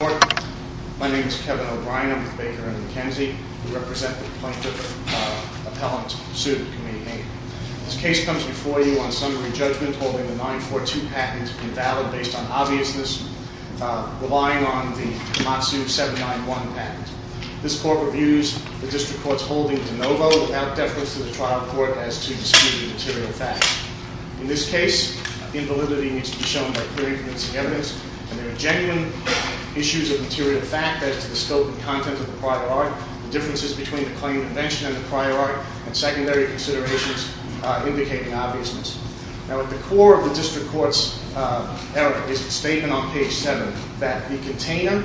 Court. My name is Kevin O'Brien. I'm with Baker & McKenzie. We represent the plaintiff appellant sued in Committee 8. This case comes before you on summary judgment holding the 942 patent invalid based on obviousness relying on the Komatsu 791 patent. This court reviews the district court's holding de novo without deference to the trial court as to disputed material facts. In this case invalidity needs to be shown by clear influencing evidence and there are genuine issues of material fact as to the scope and content of the prior art. Differences between the claimed invention and the prior art and secondary considerations indicate an obviousness. Now at the core of the district court's error is the statement on page 7 that the container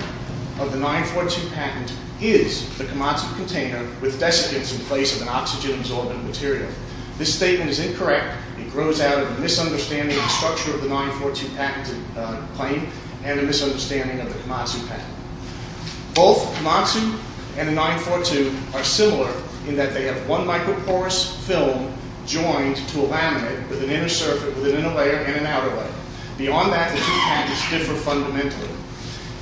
of the 942 patent is the Komatsu container with desiccants in place of an oxygen absorbent material. This statement is incorrect. It grows out of a misunderstanding of the structure of the 942 patent claim and a misunderstanding of the Komatsu patent. Both Komatsu and the 942 are similar in that they have one microporous film joined to a laminate with an inner surface with an inner layer and an outer layer. Beyond that the two patents differ fundamentally.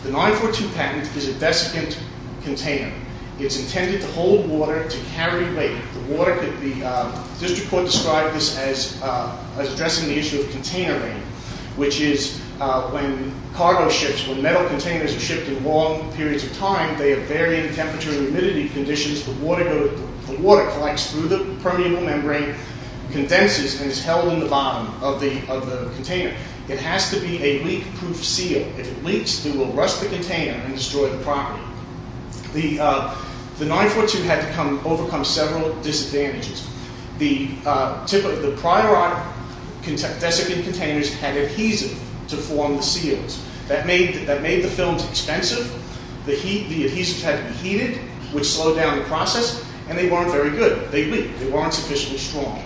The 942 patent is a desiccant container. It's intended to hold water to carry weight. The district court described this as addressing the issue of container rain which is when cargo ships, when metal containers are shipped in long periods of time they are buried in temperature and humidity conditions. The water collects through the permeable membrane, condenses and is held in the bottom of the container and destroys the property. The 942 had to overcome several disadvantages. The prior desiccant containers had adhesive to form the seals. That made the films expensive. The adhesives had to be heated which slowed down the process and they weren't very good. They leaked. They weren't sufficiently strong.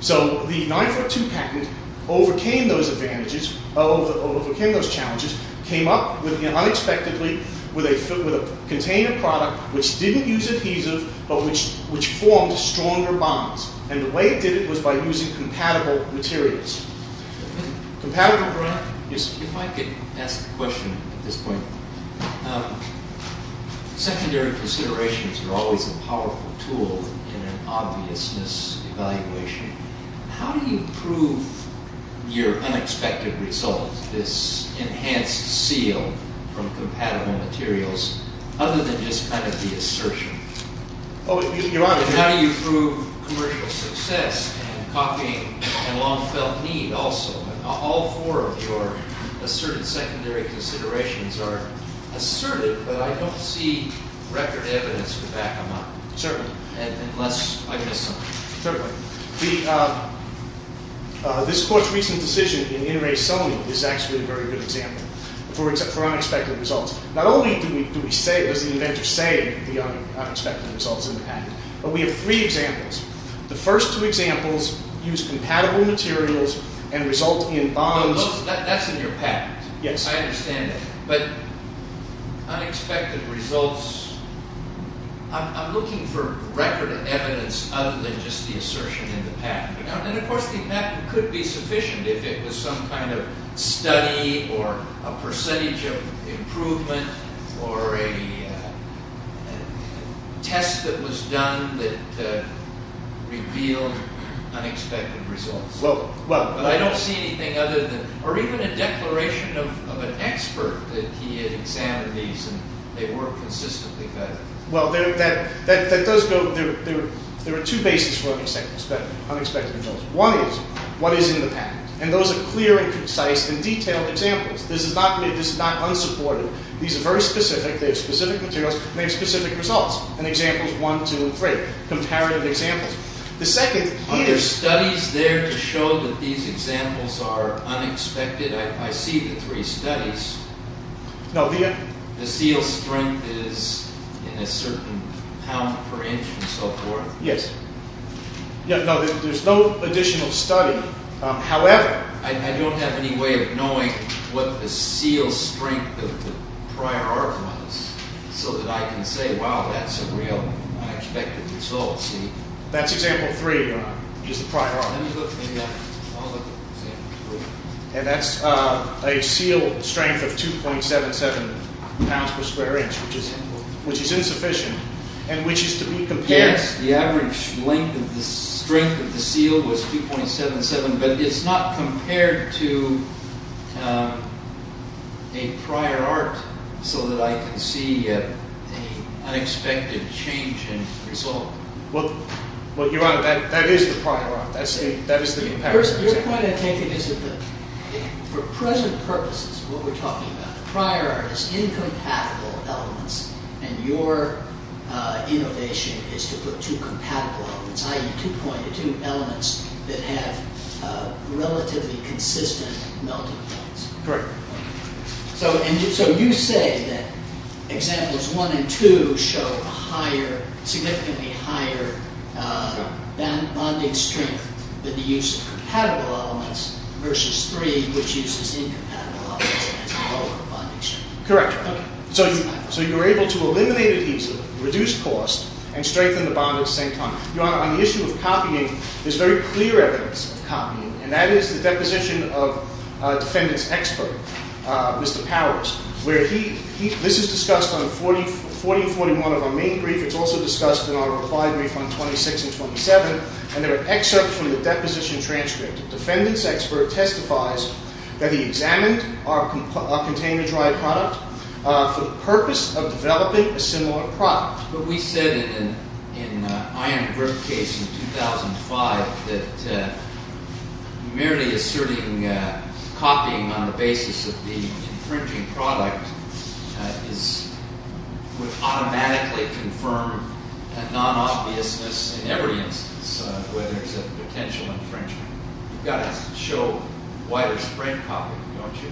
So the 942 patent overcame those challenges, came up unexpectedly with a container product which didn't use adhesive but which formed stronger bonds and the way it did it was by using compatible materials. If I could ask a question at this point. Secondary considerations are always a powerful tool in an unexpected result. This enhanced seal from compatible materials other than just kind of the assertion. How do you prove commercial success and copying and long felt need also? All four of your asserted secondary considerations are assertive but I don't see record evidence to back them up. Certainly. This court's recent decision in Inres Somi is actually a very good example for unexpected results. Not only does the inventor say the unexpected results in the patent but we have three examples. The first two examples use compatible materials and result in bonds. That's in your patent. I understand that. But unexpected results, I'm looking for record evidence other than just the assertion in the patent. And of course the patent could be sufficient if it was some kind of study or a percentage of improvement or a test that was done that revealed unexpected results. But I don't see anything other than or even a declaration of an expert that he examined these and they weren't consistently better. There are two bases for unexpected results. One is what is in the patent. And those are clear and concise and detailed examples. This is not unsupported. These are very specific. They have specific materials and they have specific results. And examples 1, 2, 3. Comparative examples. Are there studies there to show that these examples are unexpected? I see the three studies. The seal strength is in a certain pound per inch and so forth. Yes. There's no additional study. However, I don't have any way of knowing what the seal strength of the prior art was so that I can say, wow, that's a real unexpected result. That's example 3 is the prior art. And that's a seal strength of 2.77 pounds per square inch, which is insufficient and which is to be compared. Yes, the average length of the strength of the seal was 2.77, but it's not compared to a prior art so that I can see an unexpected change in result. Well, Your Honor, that is the prior art. That is the comparative example. Your point, I think, is that for present purposes, what we're talking about, the prior art is incompatible elements and your innovation is to put two compatible elements, i.e. two elements that have relatively consistent melting points. So you say that examples 1 and 2 show significantly higher bonding strength than the use of compatible elements versus 3, which uses incompatible elements Correct. So you're able to eliminate adhesive, reduce cost, and strengthen the bond at the same time. Your Honor, on the issue of copying, there's very clear evidence of copying, and that is the deposition of defendant's expert, Mr. Powers, where this is discussed on 40 and 41 of our main brief. It's also discussed in our reply brief on 26 and 27, and there are excerpts from the container dry product for the purpose of developing a similar product. But we said in an iron grip case in 2005 that merely asserting copying on the basis of the infringing product would automatically confirm a non-obviousness in every instance where there's a potential infringement. You've got to show widespread copying, don't you?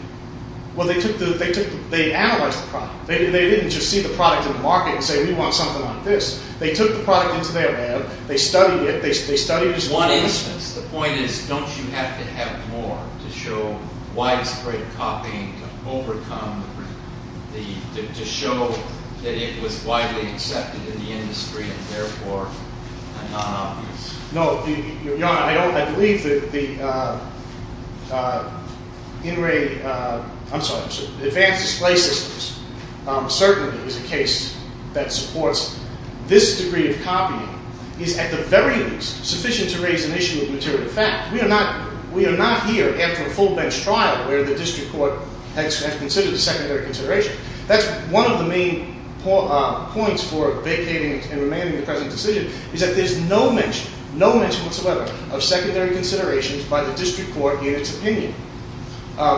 Well, they analyzed the product. They didn't just see the product in the market and say, we want something like this. They took the product into their lab, they studied it. The point is, don't you have to have more to show widespread copying to overcome, to show that it was widely accepted in the industry and therefore a non-obviousness? Your Honor, I believe that the in-ray, I'm sorry, advanced display systems certainly is a case that supports this degree of copying is at the very least sufficient to raise an issue of material fact. We are not here after a full bench trial where the district court has considered a secondary consideration. That's one of the main points for vacating and remaining in the present decision is that there's no mention, no mention whatsoever of secondary considerations by the district court in its opinion.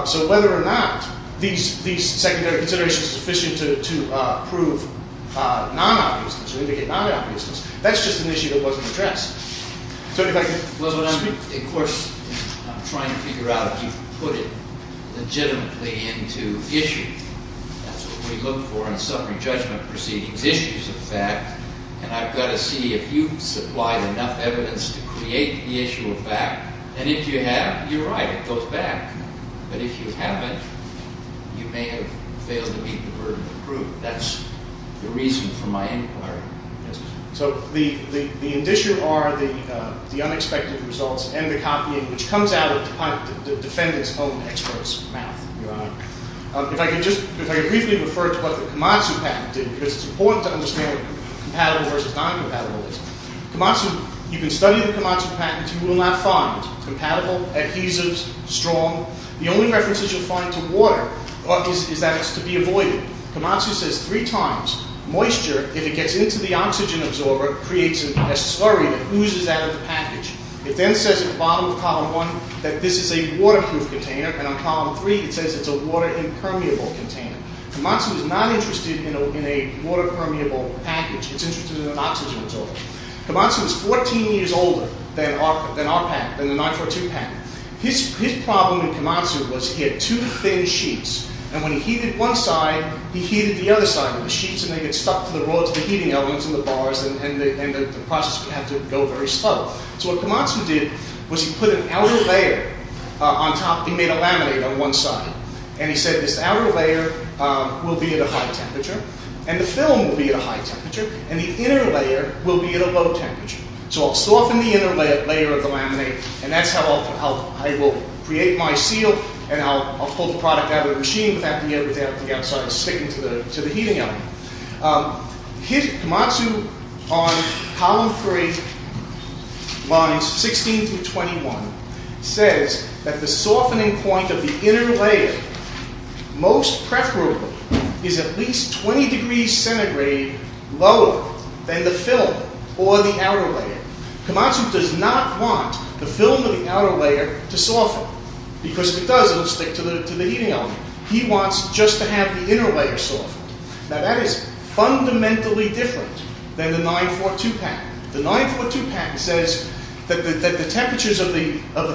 So whether or not these secondary considerations are sufficient to prove non-obviousness or indicate non-obviousness, that's just an issue that wasn't addressed. Well, of course, I'm trying to figure out if you put it legitimately into issue. That's what we look for in summary judgment proceedings, issues of fact. And I've got to see if you've supplied enough evidence to create the issue of fact. And if you have, you're right, it goes back. But if you haven't, you may have failed to meet the burden of proof. That's the reason for my inquiry. So the addition are the unexpected results and the copying, which comes out of the defendant's own expert's mouth, Your Honor. If I can just briefly refer to what the Kamatsu patent did, because it's important to understand what compatible versus non-compatible is. Kamatsu, you can study the Kamatsu patent. You will not find compatible, adhesives, strong. The only problem with Kamatsu, moisture, if it gets into the oxygen absorber, creates a slurry that oozes out of the package. It then says at the bottom of Column 1 that this is a waterproof container. And on Column 3, it says it's a water impermeable container. Kamatsu is not interested in a water permeable package. It's interested in an oxygen absorber. Kamatsu is 14 years older than our patent, than the 942 patent. His problem in Kamatsu was he had two thin sheets, and when he heated one side, he heated the other side of the sheets, and they get stuck to the rods, the heating elements, and the bars, and the process would have to go very slow. So what Kamatsu did was he put an outer layer on top. He made a laminate on one side, and he said this outer layer will be at a high temperature, and the film will be at a high temperature, and the inner layer will be at a low temperature. So I'll soften the product out of the machine without sticking to the heating element. Kamatsu, on Column 3, lines 16 through 21, says that the softening point of the inner layer, most preferably, is at least 20 degrees centigrade lower than the film or the outer layer. Kamatsu does not want the film or the outer layer to soften, because if it does, it will stick to the heating element. He wants just to have the inner layer soften. Now that is fundamentally different than the 942 patent. The 942 patent says that the temperatures of the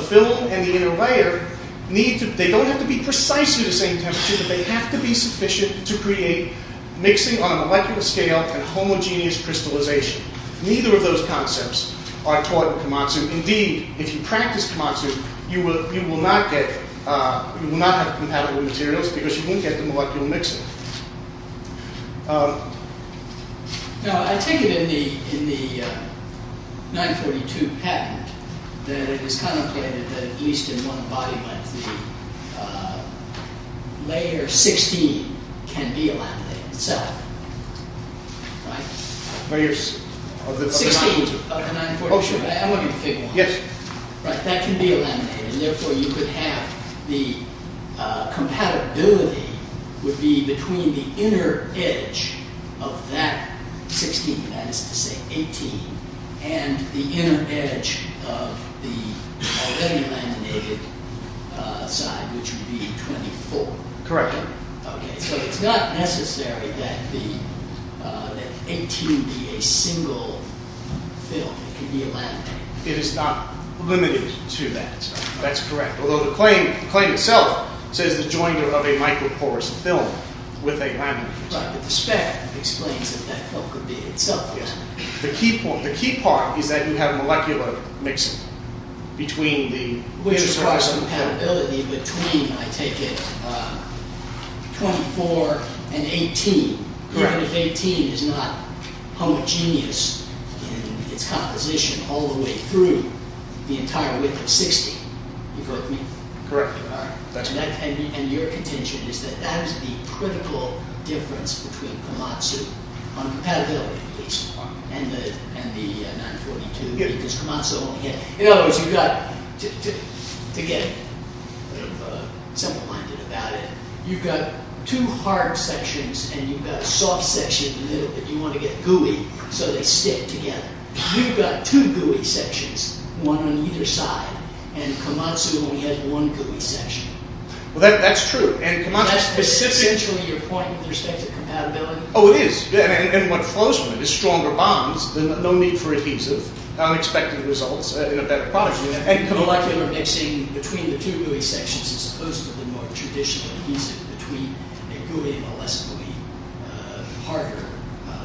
film and the inner layer, they don't have to be precisely the same temperature, but they have to be sufficient to create mixing on a molecular scale and homogeneous crystallization. Neither of those concepts are taught in Kamatsu. Indeed, if you practice Kamatsu, you will not have compatible materials, because you wouldn't get the molecular mixing. Now, I take it in the 942 patent that it is contemplated that at least in one body like the layer 16 can be laminated itself. Layers of the 942. That can be laminated, and therefore you could have the compatibility would be between the inner edge of that 16, that is to say 18, and the inner edge of the already laminated side, which would be 24. Correct. So it is not necessary that 18 be a single film. It can be a laminated. It is not limited to that. That is correct. Although the claim itself says the joinder of a microporous film with a laminated side. But the spec explains that that film could be itself laminated. The key part is that you have molecular mixing between the inner surface and the outer. Which requires compatibility between, I take it, 24 and 18. Correct. Even if 18 is not homogeneous in its composition all the way through the entire width of 16. Correct. And your contention is that that is the problem. And the 942. In other words, you have got to get simple minded about it. You have got two hard sections and you have got a soft section in the middle that you want to get gooey so they stick together. You have got two gooey sections, one on either side and Komatsu only has one gooey section. That is true. That is essentially your point with respect to compatibility? Oh it is. And what flows from it is stronger bonds. No need for adhesive. Unexpected results. Molecular mixing between the two gooey sections is supposed to be more traditional adhesive between a gooey and a less gooey, harder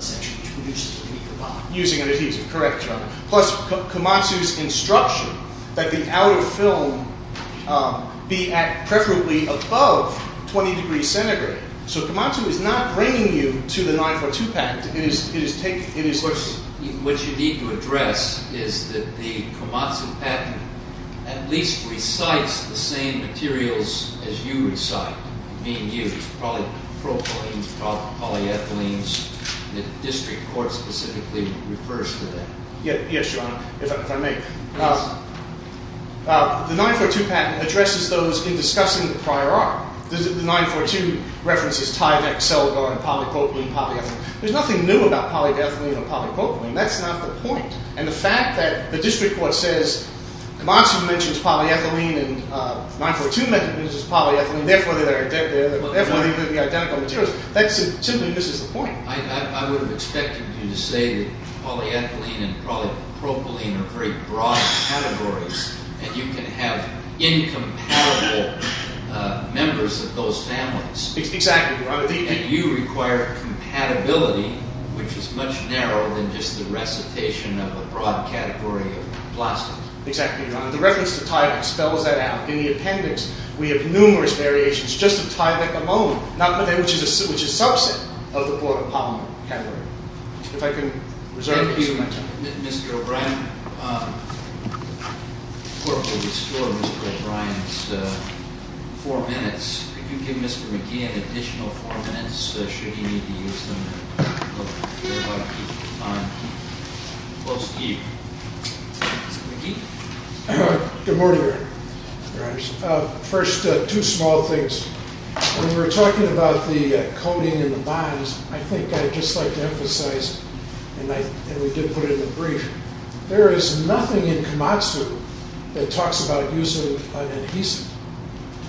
section which produces a weaker bond. Using an adhesive. Correct. Plus Komatsu's instruction that the outer film be at preferably above 20 degrees centigrade. So Komatsu is not bringing you to the 942 patent. What you need to address is that the Komatsu patent at least recites the same materials as you recite. Probably propylene, polyethylene. The district court specifically refers to that. Yes Your Honor, if I may. The 942 patent addresses those in discussing the prior art. The 942 references Tyvek, Seligar, polypropylene, polyethylene. There is nothing new about polyethylene or polypropylene. That is not the point. And the fact that the district court says Komatsu mentions polyethylene and 942 mentions polyethylene therefore they are identical materials. That simply misses the point. I would have expected you to say that polyethylene and polypropylene are very broad categories and you can have incompatible members of those families. Exactly Your Honor. And you require compatibility which is much narrower than just the recitation of a broad category of plastic. Exactly Your Honor. The reference to Tyvek spells that out. In the appendix we have numerous variations just of Tyvek alone which is a subset of the broad category. Thank you Mr. O'Brien. The court will restore Mr. O'Brien's four minutes. Could you give Mr. McGee an additional four minutes should he need to use them? Good morning Your Honor. First two small things. When we were talking about the coating and the bonds I think I'd just like to emphasize and we did put it in the brief. There is nothing in Komatsu that talks about the use of an adhesive.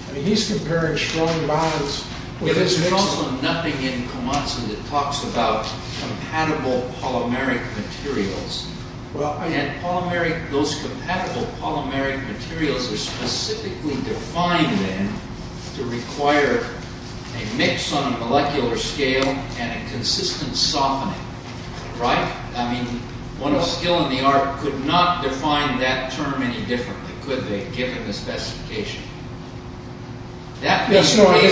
I mean he's comparing strong bonds There is also nothing in Komatsu that talks about compatible polymeric materials. Those compatible polymeric materials are specifically defined then to require a mix on a molecular scale and a consistent softening. Right? I mean one of skill in the art could not define that term any differently could they given the specification. Excuse me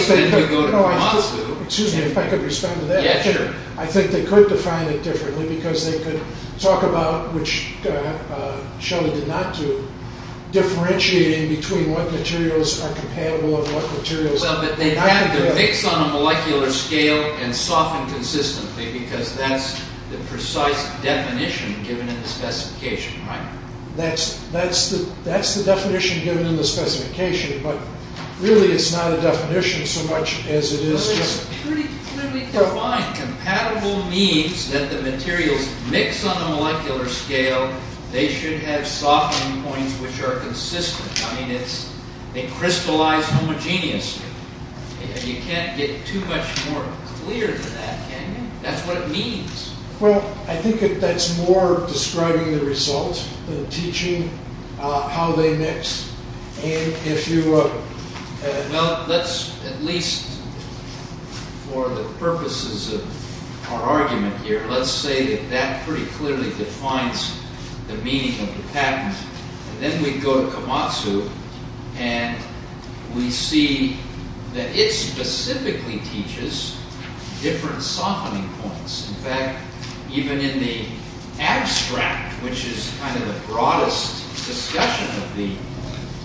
if I could respond to that. I think they could define it differently because they could talk about, which Shelly did not do, differentiating between what materials are compatible and what materials are not compatible. They have to mix on a molecular scale and soften consistently because that's the precise definition given in the specification. Right? That's the definition given in the specification but really it's not a definition so much as it is pretty clearly defined. Compatible means that the materials mix on a molecular scale. They should have softening points which are consistent. I mean they crystallize homogeneously and you can't get too much more clear than that can you? That's what it means. Well I think that's more describing the result than teaching how they mix and if you... Well let's at least for the purposes of our argument here let's say that that pretty clearly defines the meaning of the patent and then we go to Komatsu and we see that it specifically teaches different softening points. In fact even in the abstract which is kind of the broadest discussion of the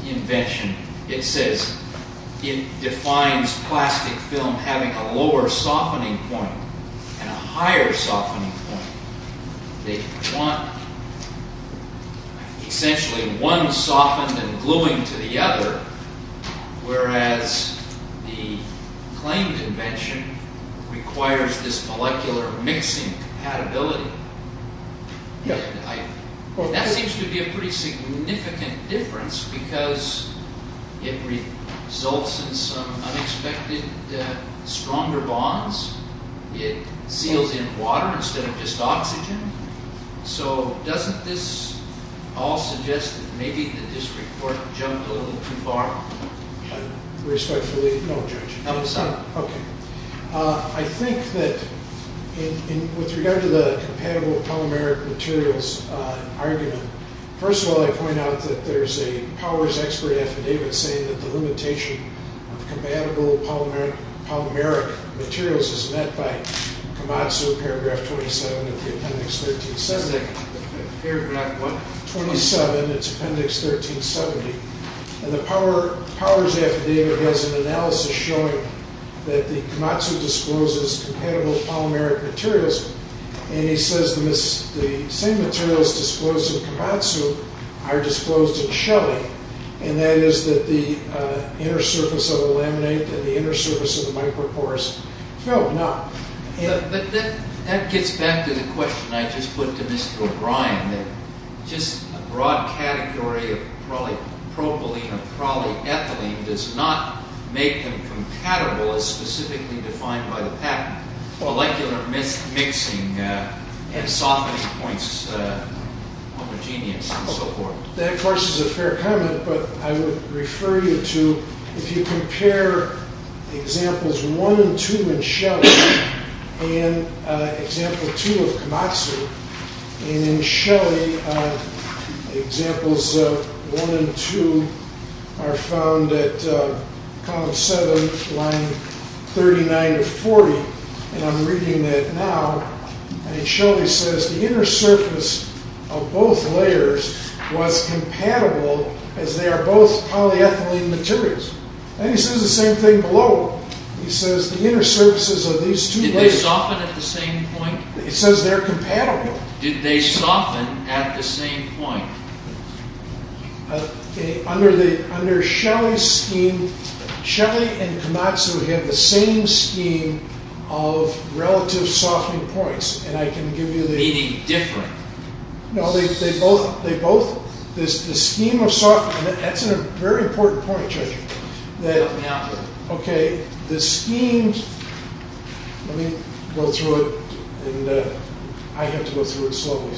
invention it says it defines plastic film having a lower softening point and a higher softening point. They want essentially one softened and gluing to the other whereas the claimed invention requires this molecular mixing compatibility. That seems to be a pretty significant difference because it results in some unexpected stronger bonds. It seals in water instead of just oxygen. So doesn't this all suggest that maybe the district court jumped a little bit too far? Respectfully no judge. I think that with regard to the compatible polymeric materials argument first of all I point out that there's a Powers expert affidavit saying that the limitation of compatible polymeric materials is met by Komatsu paragraph 27 of the appendix 1370. Paragraph what? 27 it's appendix 1370. And the Powers affidavit has an analysis showing that the Komatsu discloses compatible polymeric materials and he says the same materials disclosed in Komatsu are disclosed in Shelly and that is that the inner surface of the laminate and the inner surface of the micropore is filled. But that gets back to the question I just put to Mr. O'Brien that just a broad category of probably propylene or probably ethylene does not make them compatible as specifically defined by the patent. Molecular mixing and softening points homogeneous and so forth. That of course is a fair comment but I would refer you to if you compare examples 1 and 2 in Shelly and example 2 of Komatsu and in Shelly examples 1 and 2 are found at column 7 line 39 to 40 and I'm reading that now and it surely says the inner surface of both layers was compatible as they are both polyethylene materials. And he says the same thing below. He says the inner surfaces of these two layers. Did they soften at the same point? He says they're compatible. Did they soften at the same point? Under Shelly's scheme, Shelly and Komatsu have the same scheme of relative softening points. Meaning different? No, they both, the scheme of softening that's a very important point Judge. Help me out here. Okay, the scheme let me go through it and I have to go through it slowly.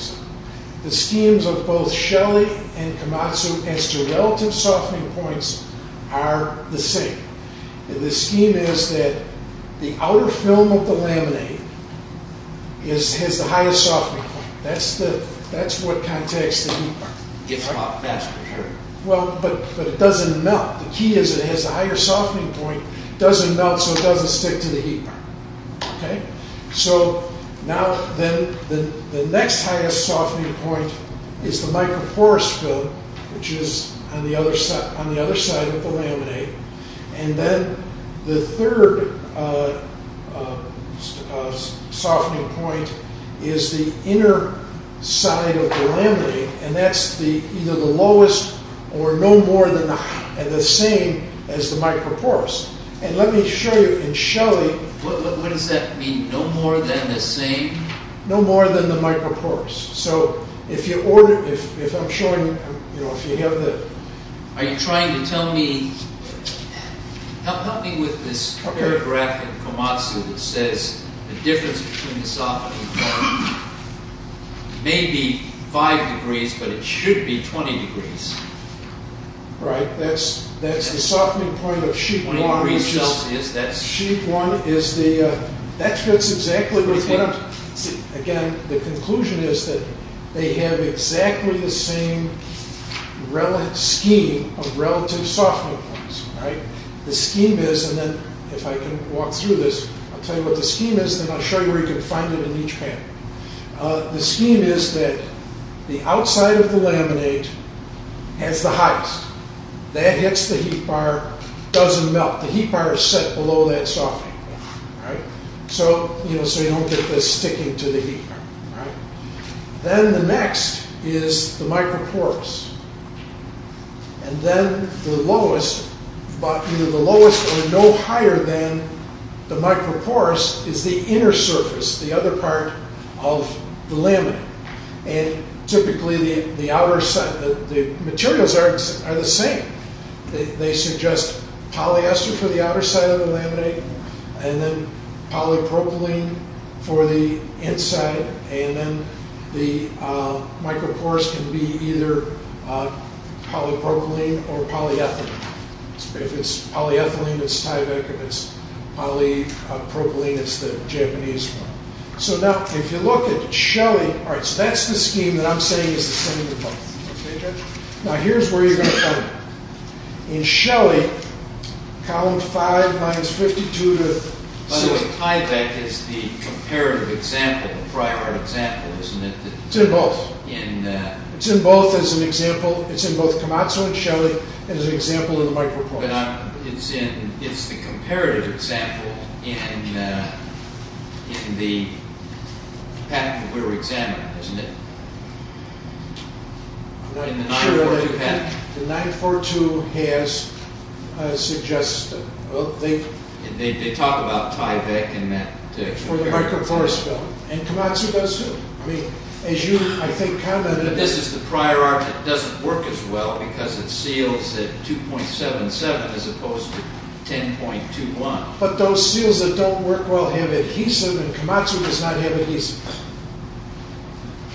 The schemes of both Shelly and Komatsu as to relative softening points are the same. The scheme is that the outer film of the laminate has the highest softening point. That's what contacts the heat. Well, but it doesn't melt. The key is it has a higher softening point. It doesn't melt so it doesn't stick to the heat. So now then the next highest softening point is the micro porous film which is on the other side of the laminate and then the third softening point is the inner side of the laminate and that's either the lowest or no more than the same as the micro porous. And let me show you in Shelly What does that mean? No more than the same? No more than the micro porous. So if I'm showing, if you have the Are you trying to tell me, help me with this paragraph in Komatsu that says the difference between the softening point may be 5 degrees but it should be 20 degrees. Right, that's the softening point of sheet one. Sheet one is the, that fits exactly with what I'm, again the conclusion is that they have exactly the same scheme of relative softening points. The scheme is, and then if I can walk through this, I'll tell you what the scheme is and then I'll show you where you can find it in each panel. The scheme is that the outside of the laminate has the highest. That hits the heat bar, doesn't melt. The heat bar is set below that softening point. So you don't get this sticking to the heat bar. Then the next is the micro porous. And then the lowest, either the lowest or no higher than the micro porous is the inner surface, the other part of the laminate. And typically the outer side, the materials are the same. They suggest polyester for the outer side of the laminate and then polypropylene for the inside and then the micro porous can be either polypropylene or polyethylene. If it's polyethylene it's Tyvek, if it's polypropylene it's the Japanese one. So now if you look at Shelley, so that's the scheme that I'm saying is the same with both. Now here's where you're going to find it. In Shelley, column 5, minus 52 to 6. But Tyvek is the comparative example, the prior example, isn't it? It's in both. It's in both as an example. It's in both Kamatsu and Shelley and as an example in the micro porous. But it's the comparative example in the pack that we were examining, isn't it? In the 942 pack. The 942 has suggested, well they talk about Tyvek and that. For the micro porous. And Kamatsu does too. As you I think commented. But this is the prior arc that doesn't work as well because it seals at 2.77 as opposed to 10.21. But those seals that don't work well have adhesive and Kamatsu does not have adhesive.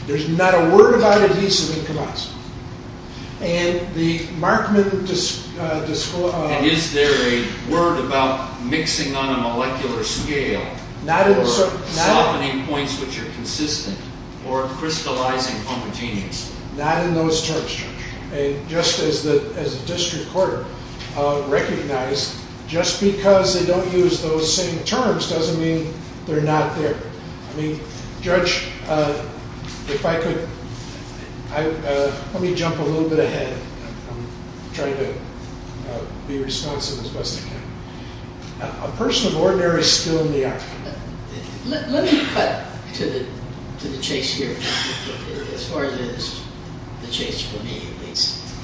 There's not a word about adhesive in Kamatsu. And is there a word about mixing on a molecular scale or softening points which are consistent or crystallizing? Not in those terms, Judge. Just as a district court recognized, just because they don't use those same terms doesn't mean they're not there. Judge, if I could, let me jump a little bit ahead. I'm trying to be responsive as best I can. A person of ordinary is still in the arc. Let me cut to the chase here.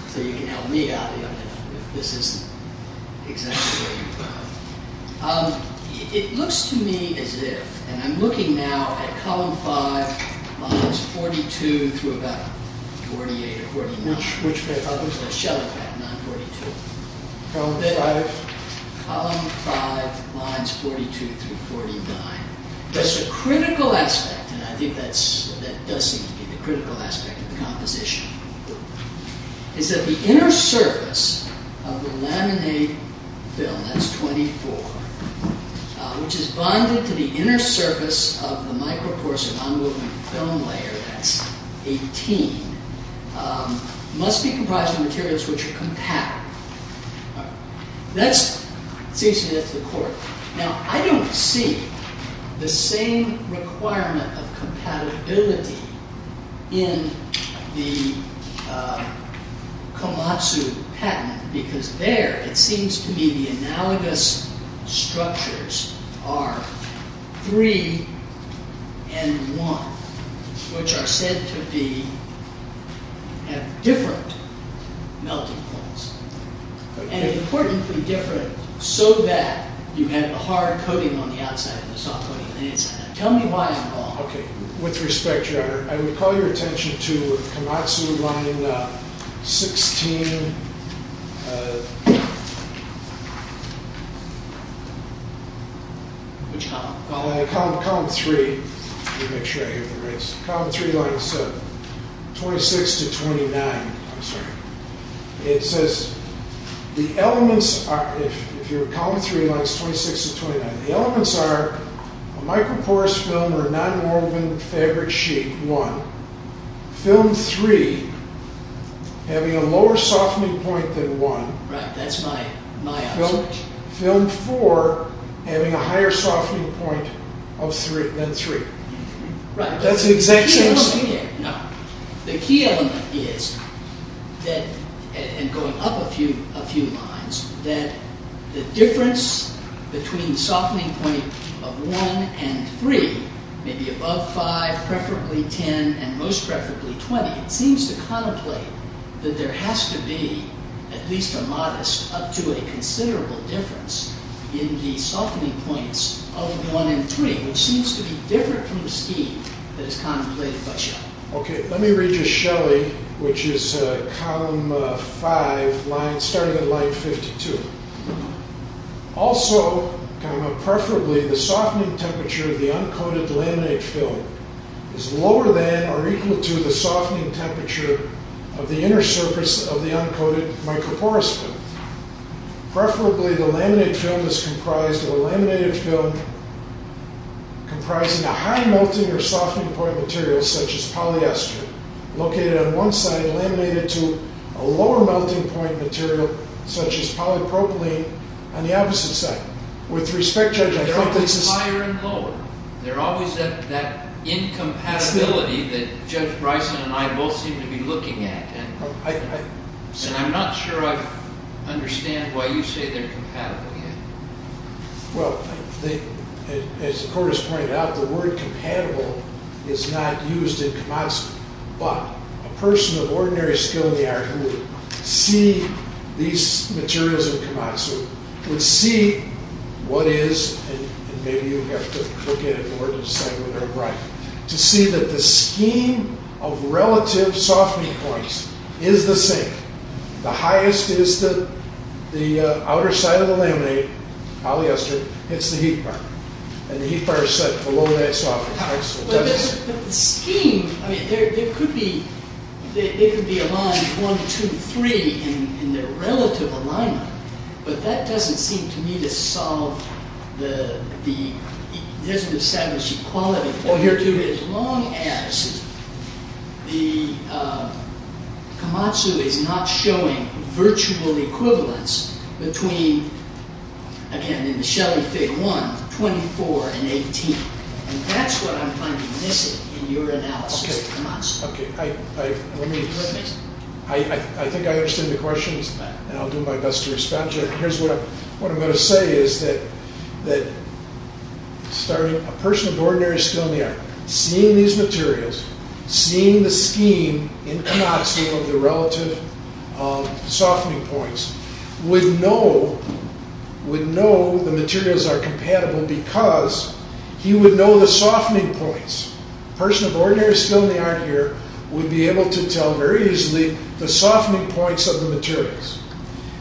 So you can help me out if this isn't exactly what you thought. It looks to me as if, and I'm looking now at column 5, lines 42 through about 48 or 49. Shell effect, 942. Column 5, lines 42 through 49. There's a critical aspect, and I think that does seem to be the critical aspect of the composition. Is that the inner surface of the laminate film, that's 24, which is bonded to the inner surface of the must be comprised of materials which are compatible. Now, I don't see the same requirement of compatibility in the Komatsu patent, because there it seems to me the analogous structures are 3 and 1, which are said to have different melting points, and importantly different so that you have a hard coating on the outside and a soft coating on the inside. Tell me why, Paul. With respect, Your Honor, I would call your attention to Komatsu line 16. Which column? Column 3. Let me make sure I hear the rights. Column 3, lines 26 to 29. It says the elements, if you're column 3, lines 26 to 29, the elements are a microporous film or a non-woven fabric sheet, film 3 having a lower softening point than 1, film 4 having a higher softening point than 3. The key element is, going up a few lines, that the difference between the softening point of 1 and 3, maybe above 5, preferably 10, and most preferably 20, it seems to contemplate that there has to be at least a modest up to a considerable difference in the softening points of 1 and 3, which seems to be different from the scheme that is contemplated by Shelley. Okay, let me read you Shelley, which is column 5, starting at line 52. Also, preferably the softening temperature of the uncoated laminate film is lower than or equal to the softening temperature of the inner surface of the uncoated microporous film. Preferably the laminate film is comprised of a laminated film comprising a high melting or softening point material such as polypropylene on the opposite side. They're always higher and lower. They're always at that incompatibility that Judge Bryson and I both seem to be looking at, and I'm not sure I understand why you say they're compatible. Well, as the court has pointed out, the word compatible is not used in Komatsu, but a person of ordinary skill in the art who would see these materials in Komatsu would see what is and maybe you have to look at it more to decide whether they're right, to see that the scheme of relative softening points is the same. The highest is the outer side of the laminate, polyester, hits the heat fire, and the heat fire is set below that softening point. There could be a line 1, 2, 3 in the relative alignment, but that doesn't seem to me to solve or establish equality, as long as Komatsu is not showing virtual equivalence between, again in the Shelly Fig. 1, 24 and 18, and that's what I'm finding missing in your analysis of Komatsu. Okay, I think I understand the question, and I'll do my best to respond to it. What I'm going to say is that a person of ordinary skill in the art, seeing these materials, seeing the scheme in Komatsu of the relative softening points, would know the materials are compatible because he would know the softening points. A person of ordinary skill in the art here would be able to tell very easily the softening points of the materials,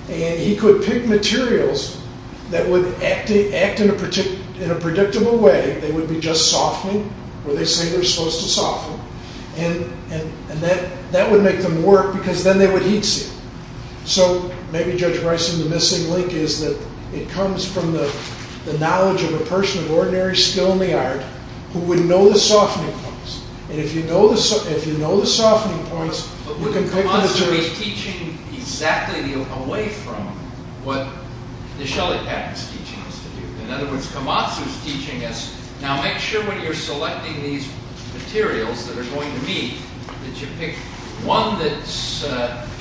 and he could pick materials that would act in a predictable way. They would be just softening where they say they're supposed to soften, and that would make them work because then they would heat seal. So maybe Judge Bryson, the missing link is that it comes from the knowledge of a person of ordinary skill in the art who would know the softening points, and if you know the softening points, you can pick the materials. So he's teaching exactly away from what the Shelley patent is teaching us to do. In other words, Komatsu is teaching us, now make sure when you're selecting these materials that are going to meet that you pick one that's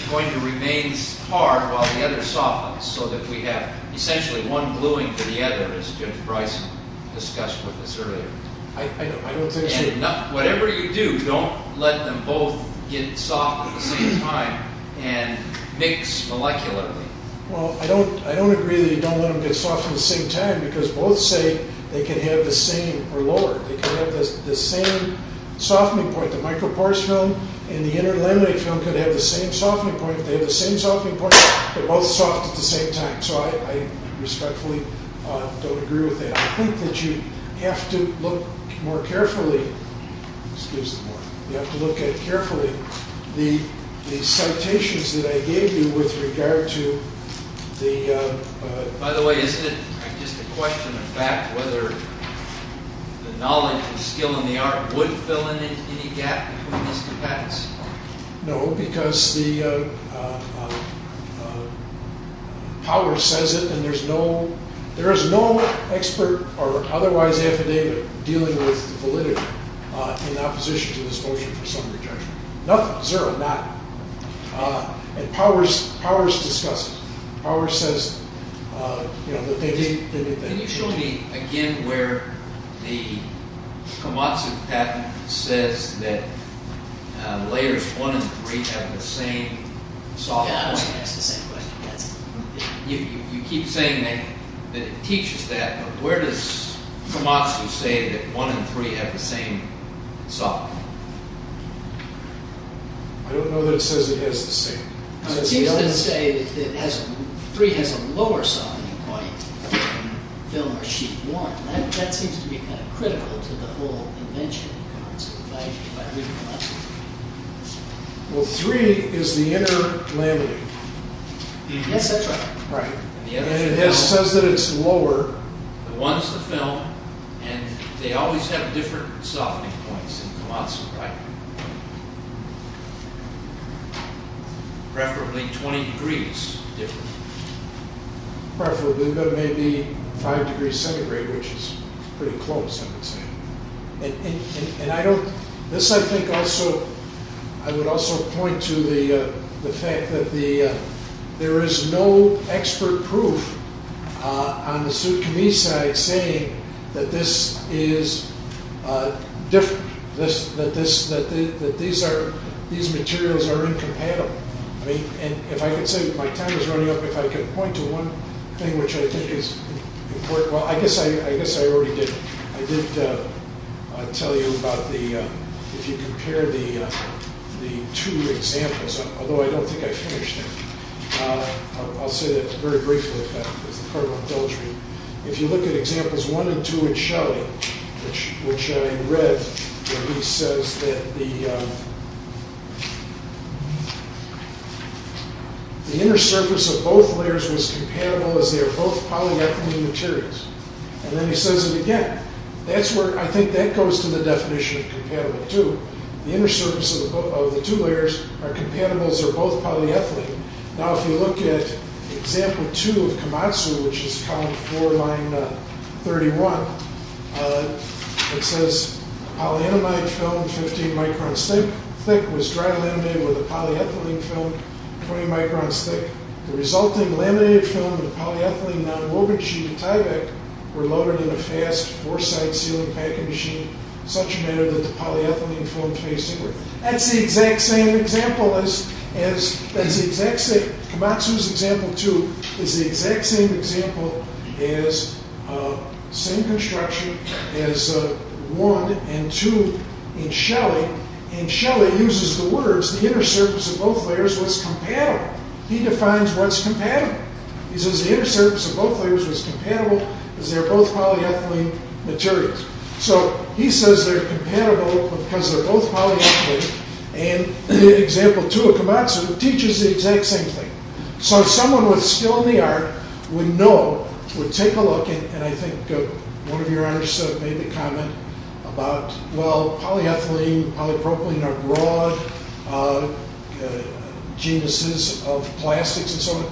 going to remain hard while the other softens so that we have essentially one gluing to the other as Judge Bryson discussed with us earlier. Whatever you do, don't let them both get soft at the same time and mix molecularly. I don't agree that you don't let them get soft at the same time because both say they can have the same softening point. The microporous film and the interlaminate film could have the same softening point. If they have the same softening point, they're both soft at the same time. So I respectfully don't agree with that. I think that you have to look more carefully, you have to look at carefully the citations that I gave you with regard to the... By the way, isn't it just a question of fact whether the knowledge of skill in the art would fill in any gap between these two patents? No, because the power says it and there is no expert or otherwise affidavit dealing with validity in opposition to this motion for summary judgment. Nothing, zero, nothing. And powers discuss it. Can you show me again where the Komatsu patent says that layers 1 and 3 have the same softening point? You keep saying that it teaches that, but where does Komatsu say that 1 and 3 have the same softening point? I don't know that it says it has the same. It seems to say that 3 has a lower softening point than film or sheet 1. That seems to be critical to the whole invention of Komatsu. Well, 3 is the inner landing. And it says that it's lower. They always have different softening points in Komatsu, right? Preferably 20 degrees different. Preferably, but maybe 5 degrees centigrade, which is pretty close, I would say. And I don't, this I think also, I would also point to the fact that the, there is no expert proof on the Tsutsumi side saying that this is different. That these materials are incompatible. If I could say, my time is running up, if I could point to one thing which I think is important. Well, I guess I already did. I did tell you about the, if you compare the two examples, although I don't think I finished it. I'll say that very briefly. If you look at examples 1 and 2 in Shelley, which I read, where he says that the inner surface of both layers was compatible as they are both polyethylene materials. And then he says it again. That's where, I think that goes to the definition of compatible too. The inner surface of the two layers are compatible as they are both polyethylene. Now, if you look at example 2 of Komatsu, which is column 4, line 31, it says polyamide film 15 microns thick was dry laminated with a polyethylene film 20 microns thick. The resulting laminated film and polyethylene nonwoven sheet of Tyvek were loaded in a fast four side sealing packing machine in such a manner that the polyethylene film faced inward. That's the exact same example as, Komatsu's example 2 is the exact same example as same construction as 1 and 2 in Shelley. And Shelley uses the words, the inner surface of both layers was compatible. He defines what's compatible. He says the inner surface of both layers was compatible as they are both polyethylene materials. So he says they're compatible because they're both polyethylene. And in example 2 of Komatsu, it teaches the exact same thing. So someone with skill in the art would know, would take a look and I think one of your honors made the comment about, well, polyethylene, polypropylene are broad genuses of plastics and so on.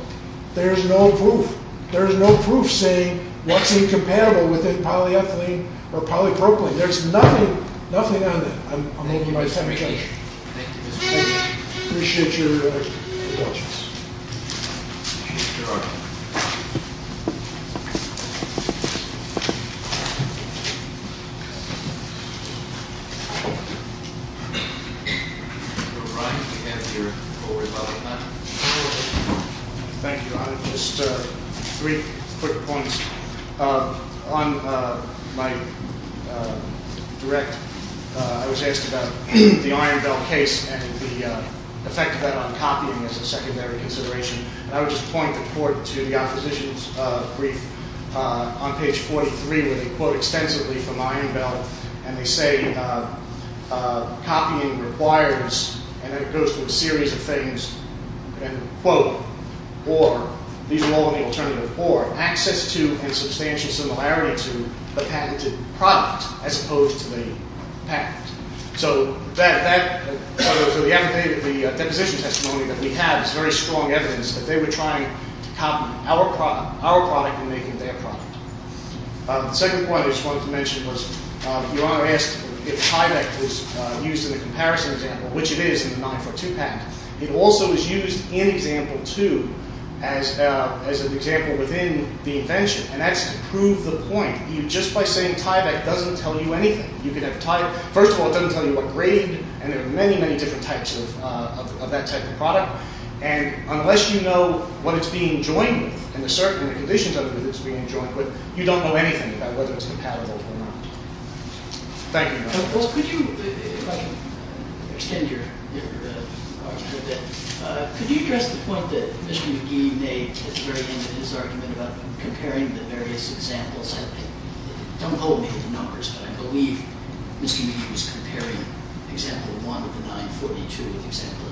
There's no proof. There's no proof saying what's incompatible with polyethylene or polypropylene. There's nothing, nothing on that. I'm hoping my time is up. Thank you. Thank you. Just three quick points. On my direct, I was asked about the Iron Bell case and the effect of that on copying as a secondary consideration. I would just point the court to the opposition's brief on page 43 where they quote extensively from Iron Bell and they say copying requires, and it goes through a series of things, and quote, or, these are all in the alternative or, access to and substantial similarity to the patented product as opposed to the patent. So the deposition testimony that we have is very strong evidence that they were trying to copy our product and make it their product. The second point I just wanted to mention was, your honor asked if Tyvek was used in the comparison example, which it is in the 9-foot-2 patent. It also is used in example 2 as an example within the invention and that's to prove the point. Just by saying Tyvek doesn't tell you anything. You can have Tyvek, first of all it doesn't tell you what grade and there are many, many different types of that type of product and unless you know what it's being joined with and the conditions of it that it's being joined with, you don't know anything about whether it's compatible or not. Thank you. If I can extend your argument a bit, could you address the point that Mr. McGee made at the very end of his argument about comparing the various examples I believe Mr. McGee was comparing example 1 of the 9-foot-2 with example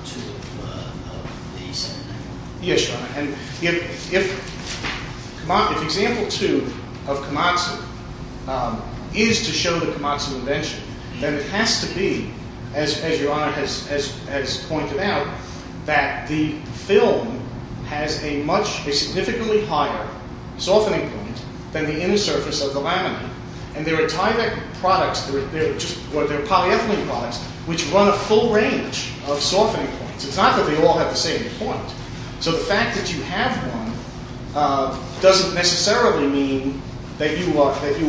2 of the 7-9-1. Yes, your honor. If example 2 of Komatsu is to show the Komatsu invention, then it has to be as your honor has pointed out, that the film has a significantly higher softening point than the inner surface of the laminate and there are Tyvek products, there are polyethylene products which run a full range of softening points. It's not that they all have the same point. So the fact that you have one doesn't necessarily mean that you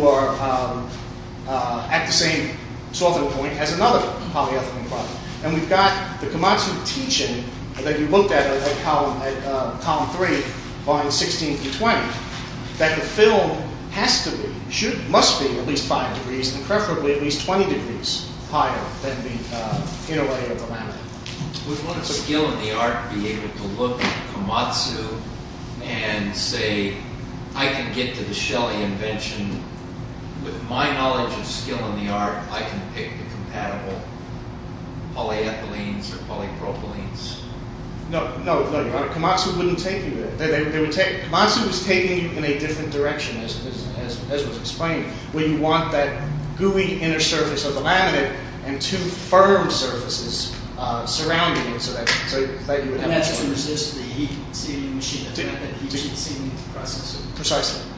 are at the same softening point as another polyethylene product. And we've got the Komatsu teaching that you looked at in column 3 on 16th and 20th, that the film has to be, must be at least 5 degrees and preferably at least 20 degrees higher than the inner layer of the laminate. Would one with skill in the art be able to look at Komatsu and say, I can get to the Shelley invention with my knowledge of skill in the art, I can pick the compatible polyethylenes or polypropylenes? No, no, your honor. Komatsu wouldn't take you there. Komatsu is taking you in a different direction as was explained, where you want that gooey inner surface of the laminate and two firm surfaces surrounding it so that you would naturally... Precisely. Thank you.